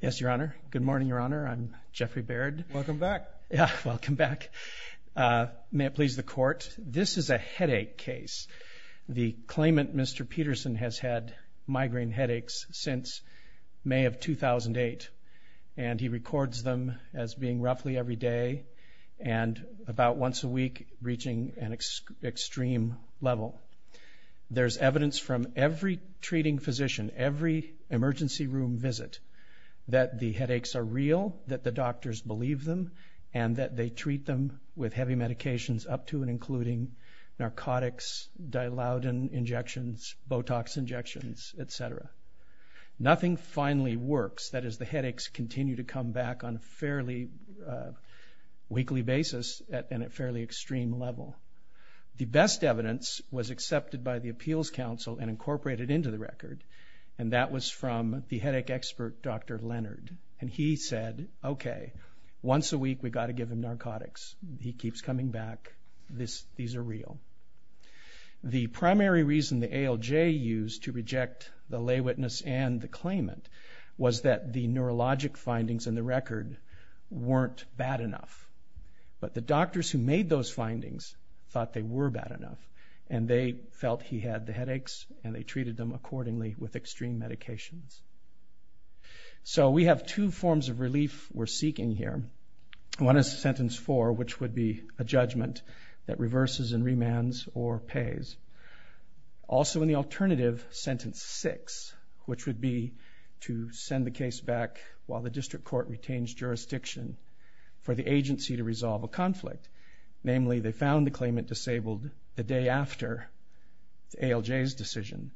Yes, Your Honor. Good morning, Your Honor. I'm Jeffrey Baird. Welcome back. Welcome back. Uh, may it please the court. This is a headache case. The claimant, Mr Peterson, has had migraine headaches since May of 2000 and eight, and he records them as being roughly every day and about once a week, reaching an extreme level. There's evidence from every treating physician, every emergency room visit, that the headaches are real, that the doctors believe them, and that they treat them with heavy medications up to and including narcotics, Dilaudid injections, Botox injections, et cetera. Nothing finally works. That is, the headaches continue to come back on a fairly, uh, weekly basis at a fairly extreme level. The best evidence was and that was from the headache expert, Dr Leonard, and he said, Okay, once a week, we've got to give him narcotics. He keeps coming back this. These are real. The primary reason the ALJ used to reject the lay witness and the claimant was that the neurologic findings in the record weren't bad enough. But the doctors who made those findings thought they were bad enough, and they felt he had the headaches, and they treated them accordingly with extreme medications. So we have two forms of relief we're seeking here. One is sentence four, which would be a judgment that reverses and remands or pays. Also, in the alternative, sentence six, which would be to send the case back while the district court retains jurisdiction for the agency to resolve a conflict. Namely, they found the claimant disabled the day after the ALJ's decision,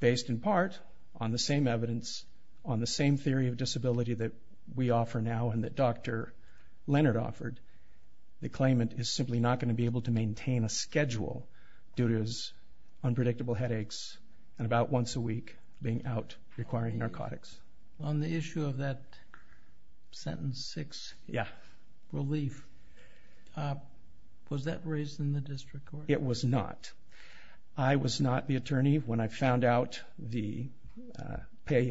based in part on the same evidence, on the same theory of disability that we offer now and that Dr Leonard offered. The claimant is simply not going to be able to maintain a schedule due to his unpredictable headaches and about once a week being out requiring narcotics. On the issue of that sentence six relief, was that raised in the district court? It was not. I was not the attorney when I found out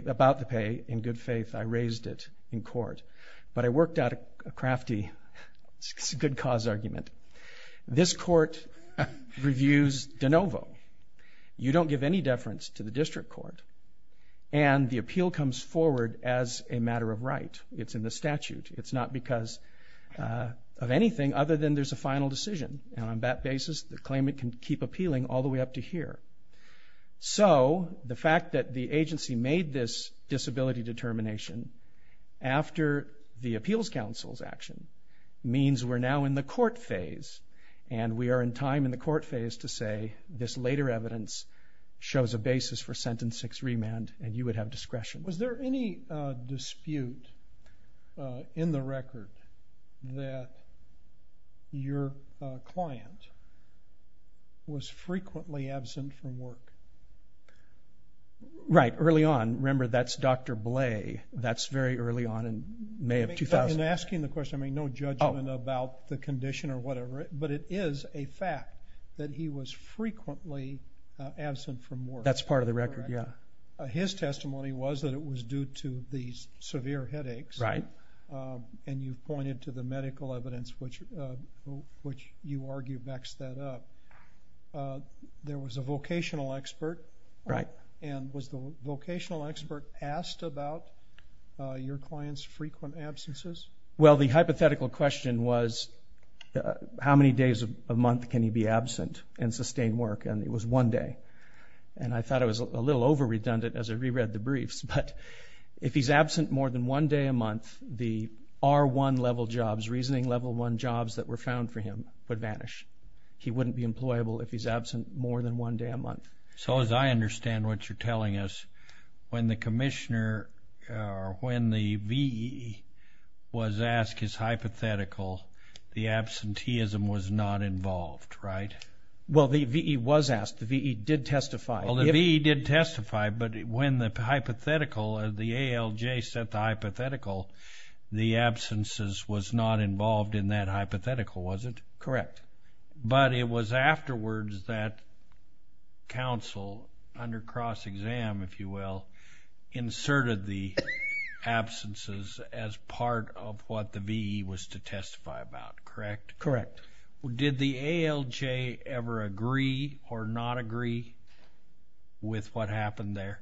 about the pay. In good faith, I raised it in court. But I worked out a crafty good cause argument. This court reviews de novo. You don't give any deference to the case forward as a matter of right. It's in the statute. It's not because of anything other than there's a final decision. On that basis, the claimant can keep appealing all the way up to here. So the fact that the agency made this disability determination after the appeals counsel's action means we're now in the court phase and we are in time in the court phase to say this later evidence shows a basis for sentence six remand and you would have discretion. Was there any dispute in the record that your client was frequently absent from work? Right early on. Remember that's Dr. Bley. That's very early on in May of 2000. In asking the question, I mean no judgment about the condition or whatever, but it is a fact that he was frequently absent from work. It was that it was due to these severe headaches. Right. And you've pointed to the medical evidence which which you argue backs that up. There was a vocational expert. Right. And was the vocational expert asked about your clients frequent absences? Well the hypothetical question was how many days a month can he be absent and sustain work and it was one day. And I thought it was a little over redundant as I reread the briefs, but if he's absent more than one day a month, the R1 level jobs, reasoning level one jobs that were found for him would vanish. He wouldn't be employable if he's absent more than one day a month. So as I understand what you're telling us, when the Commissioner or when the VE was asked his hypothetical, the absenteeism was not did testify, but when the hypothetical, the ALJ set the hypothetical, the absences was not involved in that hypothetical, was it? Correct. But it was afterwards that counsel under cross-exam, if you will, inserted the absences as part of what the VE was to testify about, correct? Correct. Did the ALJ ever agree or not agree with what happened there?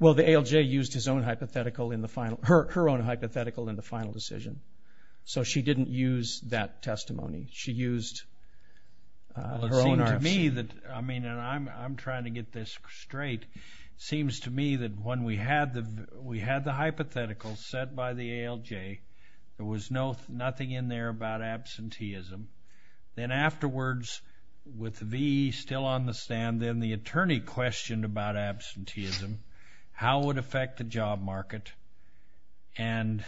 Well the ALJ used his own hypothetical in the final, her own hypothetical in the final decision. So she didn't use that testimony. She used her own. It seems to me that, I mean and I'm trying to get this straight, seems to me that when we had the, we had the hypothetical set by the ALJ, there was no nothing in there about absenteeism. Then afterwards with VE still on the stand, then the attorney questioned about absenteeism, how it would affect the job market, and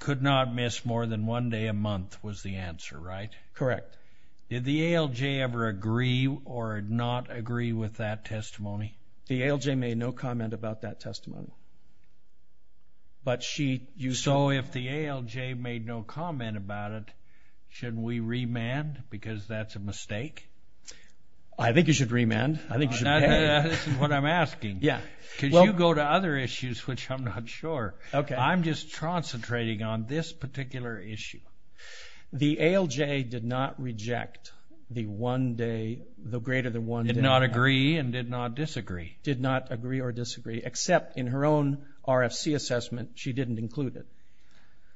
could not miss more than one day a month was the answer, right? Correct. Did the ALJ ever agree or not agree with that testimony? The ALJ made no comment about that testimony. But she, you saw. So if the ALJ made no comment about it, should we remand because that's a mistake? I think you should remand. I think this is what I'm asking. Yeah. Could you go to other issues which I'm not sure. Okay. I'm just concentrating on this particular issue. The ALJ did not reject the one day, the greater than one day. Did not agree and did not disagree. Did not agree or disagree, except in her own RFC assessment she didn't include it.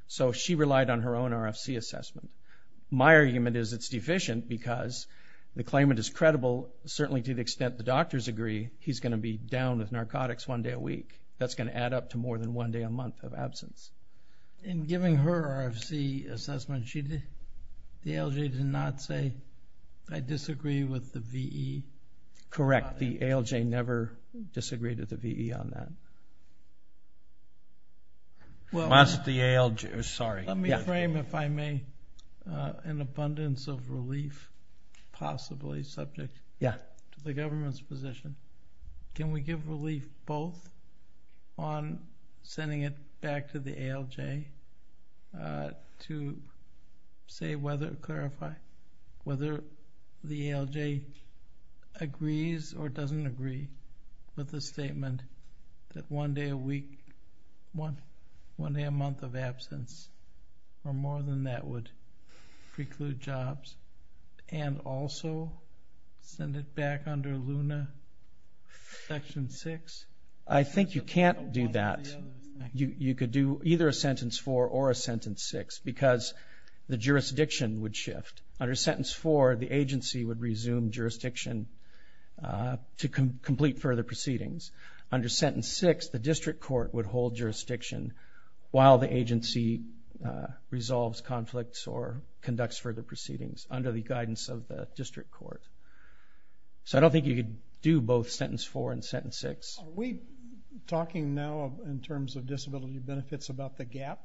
So she relied on her own RFC assessment. My argument is it's deficient because the claimant is credible, certainly to the extent the doctors agree, he's going to be down with narcotics one day a week. That's going to add up to more than one day a month of absence. In giving her RFC assessment, the ALJ did not say I disagree with the VE? Correct. The ALJ never disagreed with the VE on that. Let me frame, if I may, an abundance of relief possibly subject to the government's position. Can we give relief both on sending it back to the ALJ to say whether, clarify, whether the ALJ agrees or doesn't agree with the one day a week, one day a month of absence, or more than that would preclude jobs, and also send it back under Luna Section 6? I think you can't do that. You could do either a Sentence 4 or a Sentence 6 because the jurisdiction would shift. Under Sentence 4, the agency would resume jurisdiction to complete further proceedings. Under Sentence 6, the district court would hold jurisdiction while the agency resolves conflicts or conducts further proceedings under the guidance of the district court. So I don't think you could do both Sentence 4 and Sentence 6. Are we talking now in terms of disability benefits about the gap?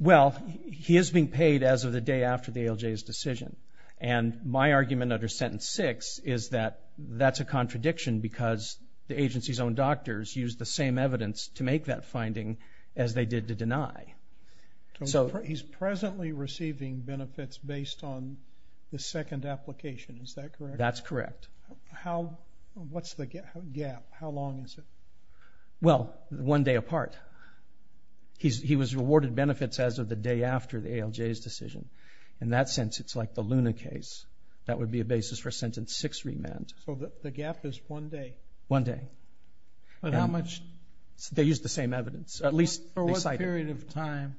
Well, he is being paid as of the day after the ALJ's decision, and my argument under Sentence 6 is that that's a contradiction because the agency's own doctors used the same evidence to make that finding as they did to deny. He's presently receiving benefits based on the second application, is that correct? That's correct. What's the gap? How long is it? Well, one day apart. He was awarded benefits as of the day after the ALJ's decision. In that sense, it's like the Luna case. That would be a basis for a Sentence 6 remand. So the gap is one day? One day. But how much? They used the same evidence. At least for what period of time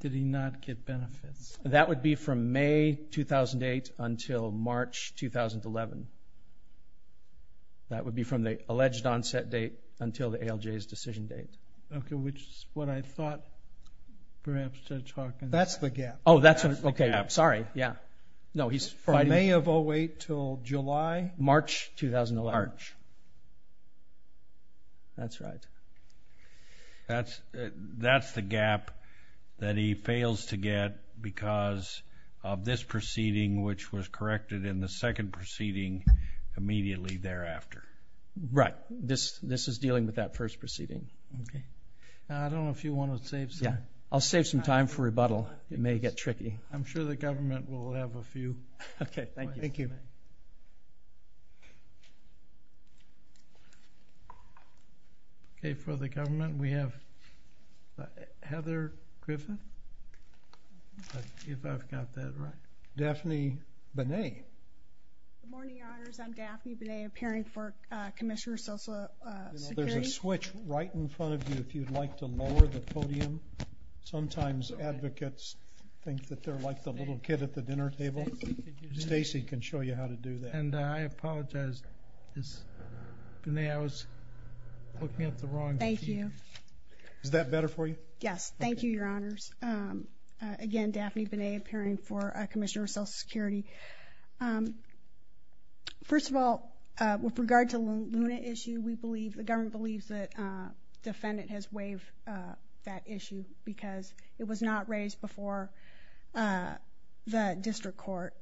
did he not get benefits? That would be from May 2008 until March 2011. That would be from the alleged onset date until the ALJ's decision date. Okay, which is what I thought perhaps Judge Hawkins... That's the gap. Oh, that's okay. I'm sorry. Yeah. No, he's fighting... From May of 2008 until July? March 2011. March. That's right. That's the gap that he fails to get because of this proceeding, which was corrected in the second proceeding immediately thereafter. Right. This is dealing with that first proceeding. Okay. I don't know if you want to save some... Yeah, I'll save some time for rebuttal. It may get tricky. I'm sure the government will have a few. Okay, thank you. Okay, for the government we have Heather Griffin, if I've got that right. Daphne Benet. Good morning, Your Honors. I'm Daphne Benet, appearing for Commissioner of Social Security. There's a switch right in front of you if you'd like to lower the podium. Sometimes advocates think that they're like the little kid at the dinner table. Stacey can show you how to do that. And I apologize. Benet, I was looking at the wrong... Thank you. Is that better for you? Yes, thank you, Your Honors. Again, Daphne Benet, appearing for Commissioner of Social Security. First of all, with regard to Luna issue, we believe, the government believes, that defendant has waived that issue because it was not raised before the district court.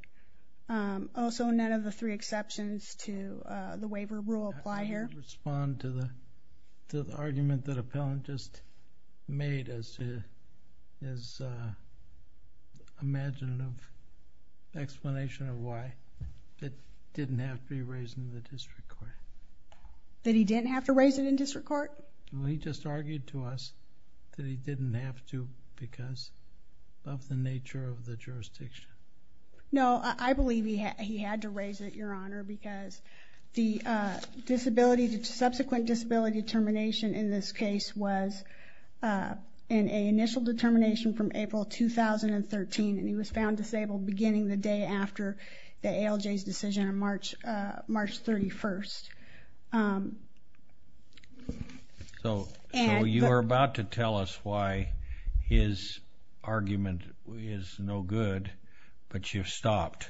Also, none of the three exceptions to the waiver rule apply here. I'd like to respond to the argument that appellant just made as his imaginative explanation of why it didn't have to be raised in the district court. That he didn't have to raise it in the district court. And he just argued to us that he didn't have to because of the nature of the jurisdiction. No, I believe he had to raise it, Your Honor, because the disability, the subsequent disability determination in this case was in a initial determination from April 2013 and he was found disabled beginning the day after the ALJ's decision on March 31st. So, you're about to tell us why his argument is no good, but you've stopped.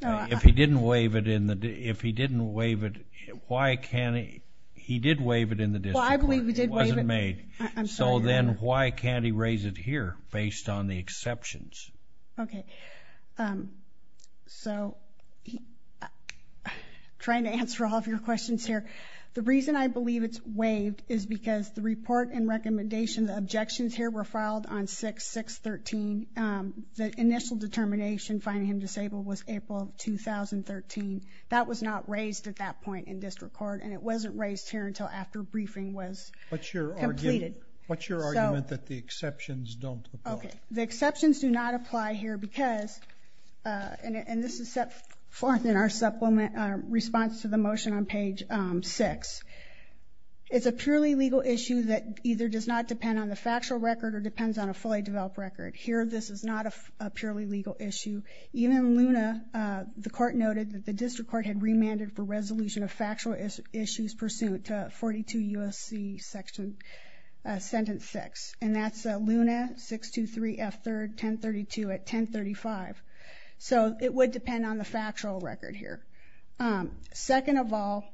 If he didn't waive it in the, if he didn't waive it, why can't he? He did waive it in the district court. Well, I believe he did waive it. It wasn't made. I'm sorry, Your Honor. So then, why can't he raise it here based on the exceptions? Okay, so, trying to answer all of your questions here. The reason I believe it's waived is because the report and recommendation, the objections here were filed on 6-6-13. The initial determination finding him disabled was April 2013. That was not raised at that point in district court and it wasn't completed. What's your argument that the exceptions don't apply? Okay, the exceptions do not apply here because, and this is set forth in our supplement response to the motion on page 6, it's a purely legal issue that either does not depend on the factual record or depends on a fully developed record. Here, this is not a purely legal issue. Even Luna, the court noted that the district court had remanded for resolution of factual issues pursuant to USC section, sentence 6, and that's Luna 623 F 3rd 1032 at 1035. So, it would depend on the factual record here. Second of all,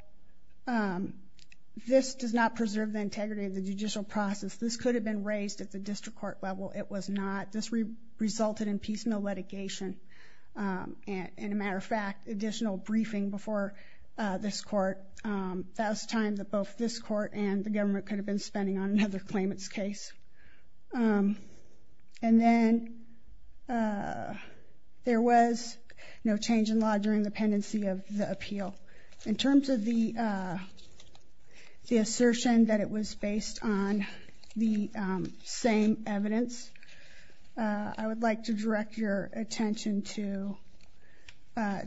this does not preserve the integrity of the judicial process. This could have been raised at the district court level. It was not. This resulted in piecemeal litigation and, a matter of court and the government could have been spending on another claimant's case. And then, there was no change in law during the pendency of the appeal. In terms of the assertion that it was based on the same evidence, I would like to direct your attention to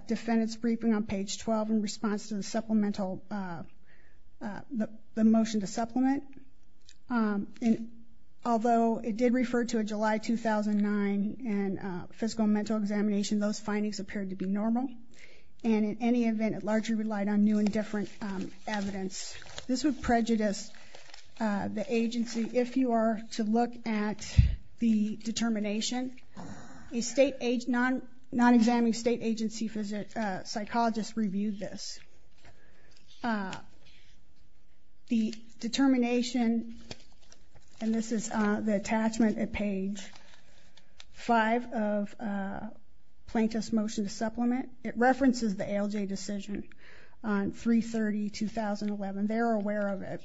defendant's briefing on page 12 in response to the motion to supplement. And, although it did refer to a July 2009 and fiscal and mental examination, those findings appeared to be normal. And, in any event, it largely relied on new and different evidence. This would prejudice the agency if you are to look at the determination. A non-examining state agency psychologist reviewed this. The determination, and this is the attachment at page 5 of plaintiff's motion to supplement, it references the ALJ decision on 330 2011. They're aware of it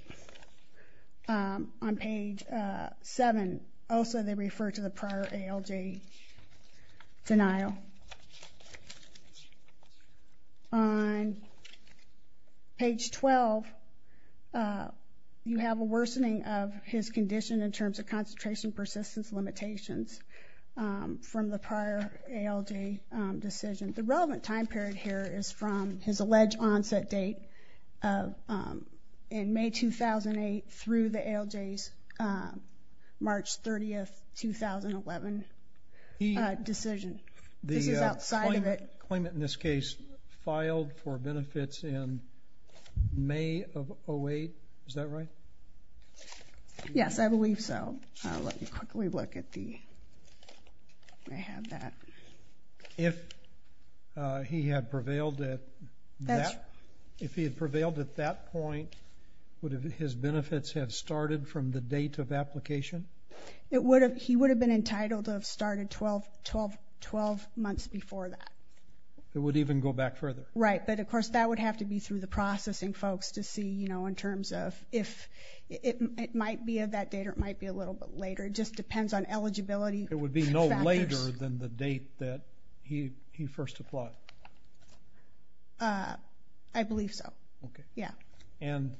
on page 7. Also, they refer to the on page 12, you have a worsening of his condition in terms of concentration persistence limitations from the prior ALJ decision. The relevant time period here is from his alleged onset date in May 2008 through the ALJ's March 30th 2011 decision. This is outside of it. The claimant in this case filed for benefits in May of 08, is that right? Yes, I believe so. Let me quickly look at the, I have that. If he had prevailed at that, if he had prevailed at that point, would his benefits have been in the date of application? It would have, he would have been entitled to have started 12, 12, 12 months before that. It would even go back further? Right, but of course that would have to be through the processing folks to see, you know, in terms of if, it might be of that date or it might be a little bit later. It just depends on eligibility. It would be no later than the date that he first applied? I believe so. Okay. Yeah. And,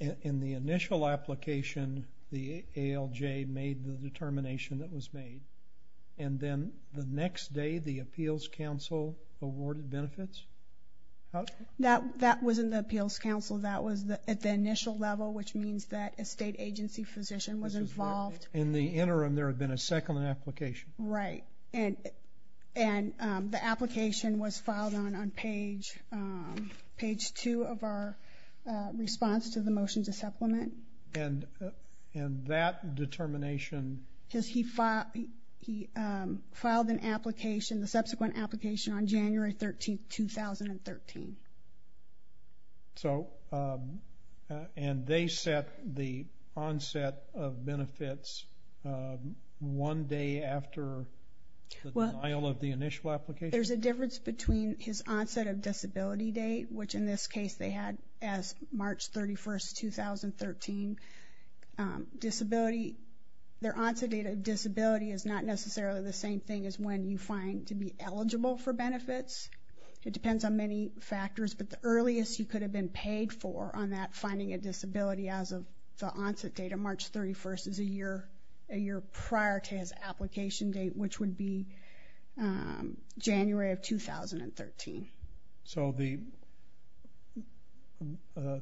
in the initial application, the ALJ made the determination that was made, and then the next day the Appeals Council awarded benefits? That, that was in the Appeals Council. That was the, at the initial level, which means that a state agency physician was involved. In the interim, there had been a second application? Right, and, and the application was filed on, on page, page two of our response to the motion to supplement? And, and that determination? Because he filed, he filed an application, the subsequent application on January 13, 2013. So, and they set the onset of benefits one day after the denial of the initial application? There's a difference between his onset of disability date, which in this case they had as March 31st, 2013. Disability, their onset date of disability is not necessarily the same thing as when you find to be eligible for benefits. It depends on many factors, but the earliest you could have been paid for on that finding a disability as of the onset date of March 31st is a year, a year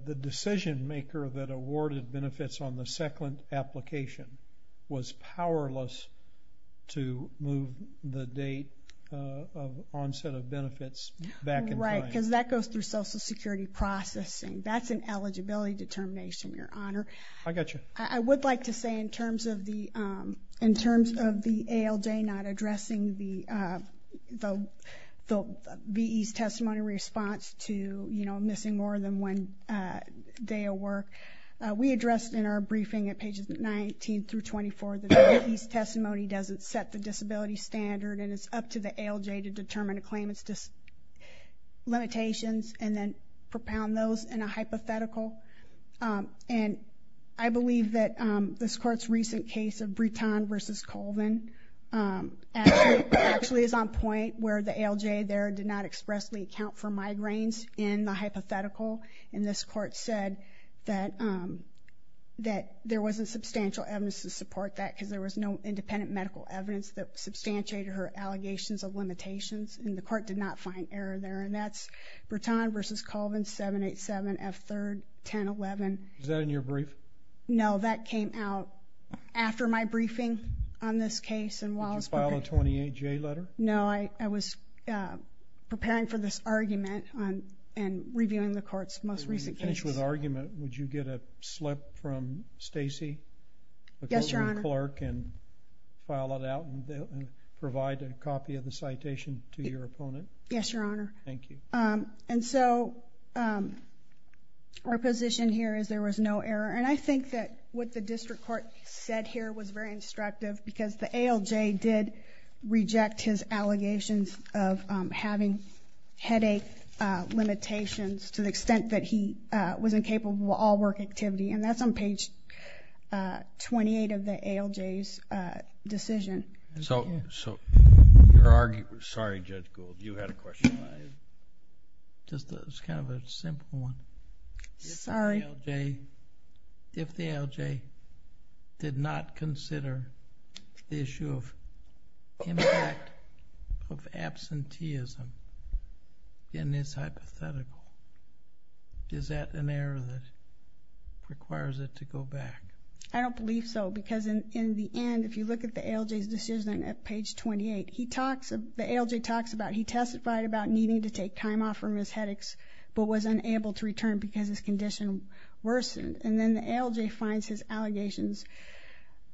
The decision maker that awarded benefits on the second application was powerless to move the date of onset of benefits back in time? Right, because that goes through Social Security processing. That's an eligibility determination, Your Honor. I got you. I would like to say in terms of the, in terms of the ALJ not addressing the, the, the VE's testimony response to, you know, missing more than one day of work, we addressed in our briefing at pages 19 through 24 that the VE's testimony doesn't set the disability standard and it's up to the ALJ to determine a claimant's limitations and then propound those in a hypothetical. And I believe that this court's recent case of Breton versus Colvin actually is on point where the ALJ there did not expressly account for and this court said that, um, that there wasn't substantial evidence to support that because there was no independent medical evidence that substantiated her allegations of limitations and the court did not find error there. And that's Breton versus Colvin, 787 F 3rd 10 11. Is that in your brief? No, that came out after my briefing on this case. And while I was filing 28 J letter? No, I, I was preparing for this argument on and reviewing the court's most recent case with argument. Would you get a slip from Stacy? Yes, your honor. Clark and file it out and provide a copy of the citation to your opponent? Yes, your honor. Thank you. Um, and so, um, our position here is there was no error. And I think that what the district court said here was very instructive because the ALJ did reject his allegations of having headache limitations to the extent that he was incapable of all work activity. And that's on page 28 of the ALJ's decision. So, so you're arguing, sorry, Judge Gould, you had a question. Just kind of a simple one. Sorry. If the ALJ did not consider the issue of impact of absenteeism in this hypothetical, is that an error that requires it to go back? I don't believe so. Because in the end, if you look at the ALJ's decision at page 28, he talks, the ALJ talks about, he testified about needing to take time off from his headaches but was unable to return because his condition worsened. And then the ALJ finds his allegations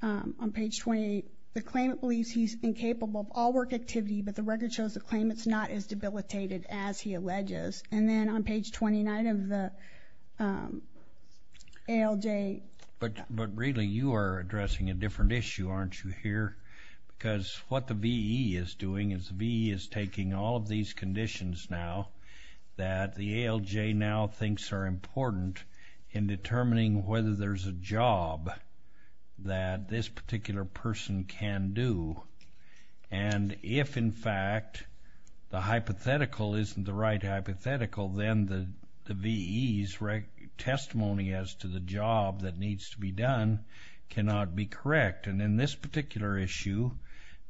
on page 28. The claimant believes he's incapable of all work activity but the record shows the claimant's not as debilitated as he alleges. And then on page 29 of the ALJ. But, but really you are addressing a different issue, aren't you here? Because what the VE is doing is the VE is taking all of these conditions now that the ALJ now thinks are important in the job that this particular person can do. And if in fact the hypothetical isn't the right hypothetical, then the VE's testimony as to the job that needs to be done cannot be correct. And in this particular issue,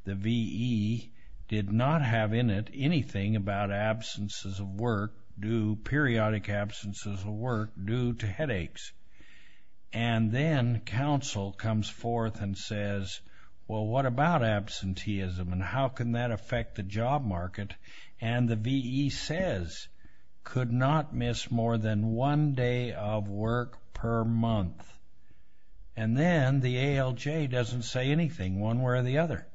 the VE did not have in it anything about absences of work due, periodic absences of work due to and then counsel comes forth and says, well what about absenteeism and how can that affect the job market? And the VE says, could not miss more than one day of work per month. And then the ALJ doesn't say anything one way or the other.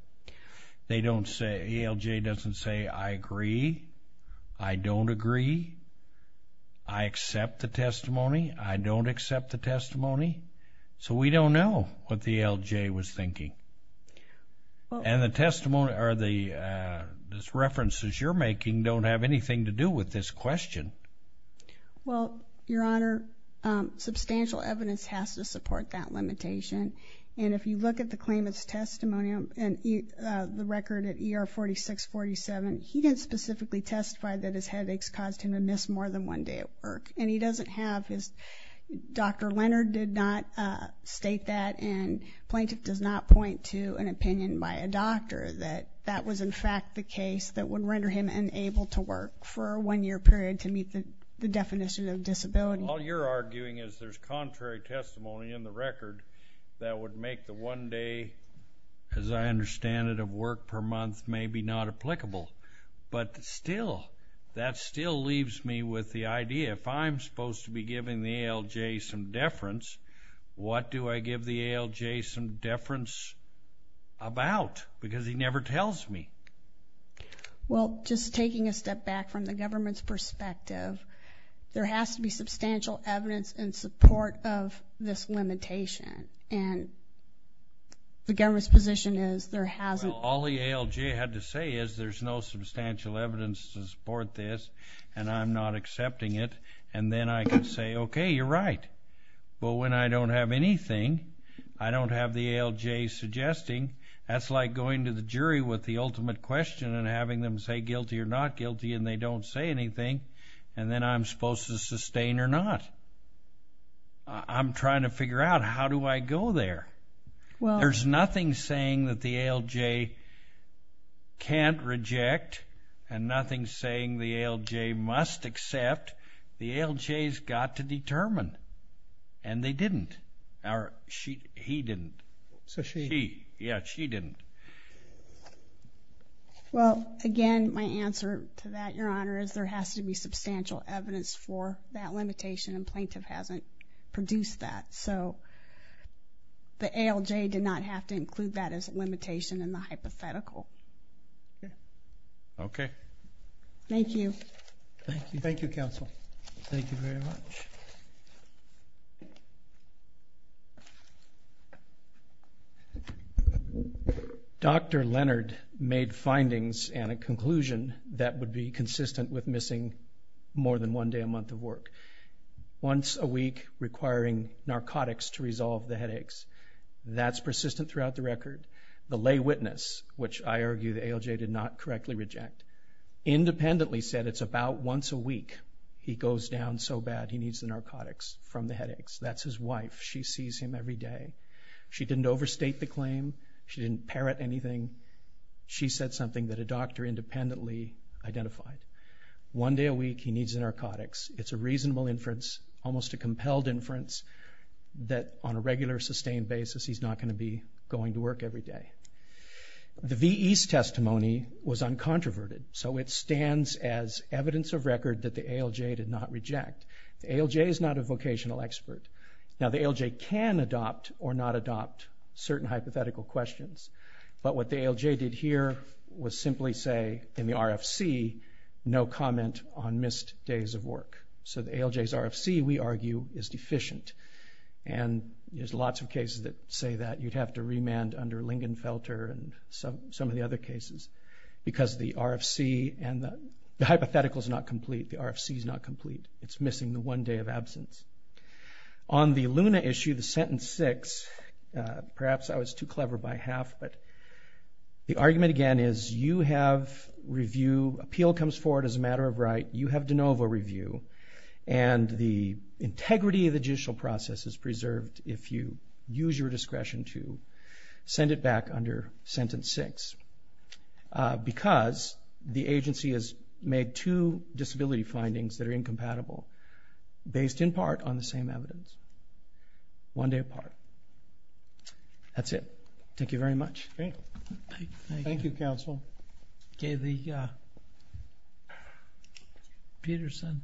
They don't say, ALJ doesn't say, I agree, I don't agree, I accept the testimony, I don't accept the testimony. So we don't know what the ALJ was thinking. And the testimony or the references you're making don't have anything to do with this question. Well, Your Honor, substantial evidence has to support that limitation. And if you look at the claimant's testimony and the record at ER 4647, he didn't specifically testify that his headaches caused him to miss more than one day of work. And he doesn't have his, Dr. Leonard did not state that, and plaintiff does not point to an opinion by a doctor that that was in fact the case that would render him unable to work for a one-year period to meet the definition of disability. All you're arguing is there's contrary testimony in the record that would make the one day, as I understand it, of work per month maybe not applicable. But still, that still leaves me with the idea, if I'm supposed to be giving the ALJ some deference, what do I give the ALJ some deference about? Because he never tells me. Well, just taking a step back from the government's perspective, there has to be substantial evidence in support of this limitation. And the government's position is there hasn't been. Well, all the ALJ had to say is there's no substantial evidence to support this and I'm not accepting it. And then I can say, okay, you're right. Well, when I don't have anything, I don't have the ALJ suggesting. That's like going to the jury with the ultimate question and having them say guilty or not guilty and they don't say anything. And then I'm supposed to sustain or not. I'm trying to figure out how do I go there? There's nothing saying that the ALJ can't reject and nothing saying the ALJ must accept. The ALJ's got to determine. And they didn't. He didn't. So she. Yeah, she didn't. Well, again, my answer to that, Your Honor, is there has to be substantial evidence for that limitation and plaintiff hasn't produced that. So the ALJ did not have to include that as a limitation in the hypothetical. Okay. Thank you. Thank you. Thank you, counsel. Thank you very much. Dr. Leonard made findings and a conclusion that would be consistent with more than one day a month of work. Once a week requiring narcotics to resolve the headaches. That's persistent throughout the record. The lay witness, which I argue the ALJ did not correctly reject, independently said it's about once a week he goes down so bad he needs the narcotics from the headaches. That's his wife. She sees him every day. She didn't overstate the claim. She didn't parrot anything. She said something that a doctor independently identified. One day a week he needs the narcotics. It's a reasonable inference, almost a compelled inference, that on a regular, sustained basis he's not going to be going to work every day. The VE's testimony was uncontroverted. So it stands as evidence of record that the ALJ did not reject. The ALJ is not a vocational expert. Now the ALJ can adopt or not adopt certain hypothetical questions. But what the ALJ did here was simply say in the RFC no comment on missed days of work. So the ALJ's RFC, we argue, is deficient. And there's lots of cases that say that you'd have to remand under Lingenfelter and some of the other cases because the RFC and the hypothetical is not complete. The RFC is not complete. It's missing the one day of absence. On the Luna issue, the sentence six, perhaps I was too clever by half, but the argument again is you have review, appeal comes forward as a matter of right, you have de novo review, and the integrity of the judicial process is preserved if you use your discretion to send it back under sentence six. Because the agency has made two disability findings that are incompatible based in part on the same evidence. One day apart. That's it. Thank you very much. Thank you, counsel. Okay, the Peterson versus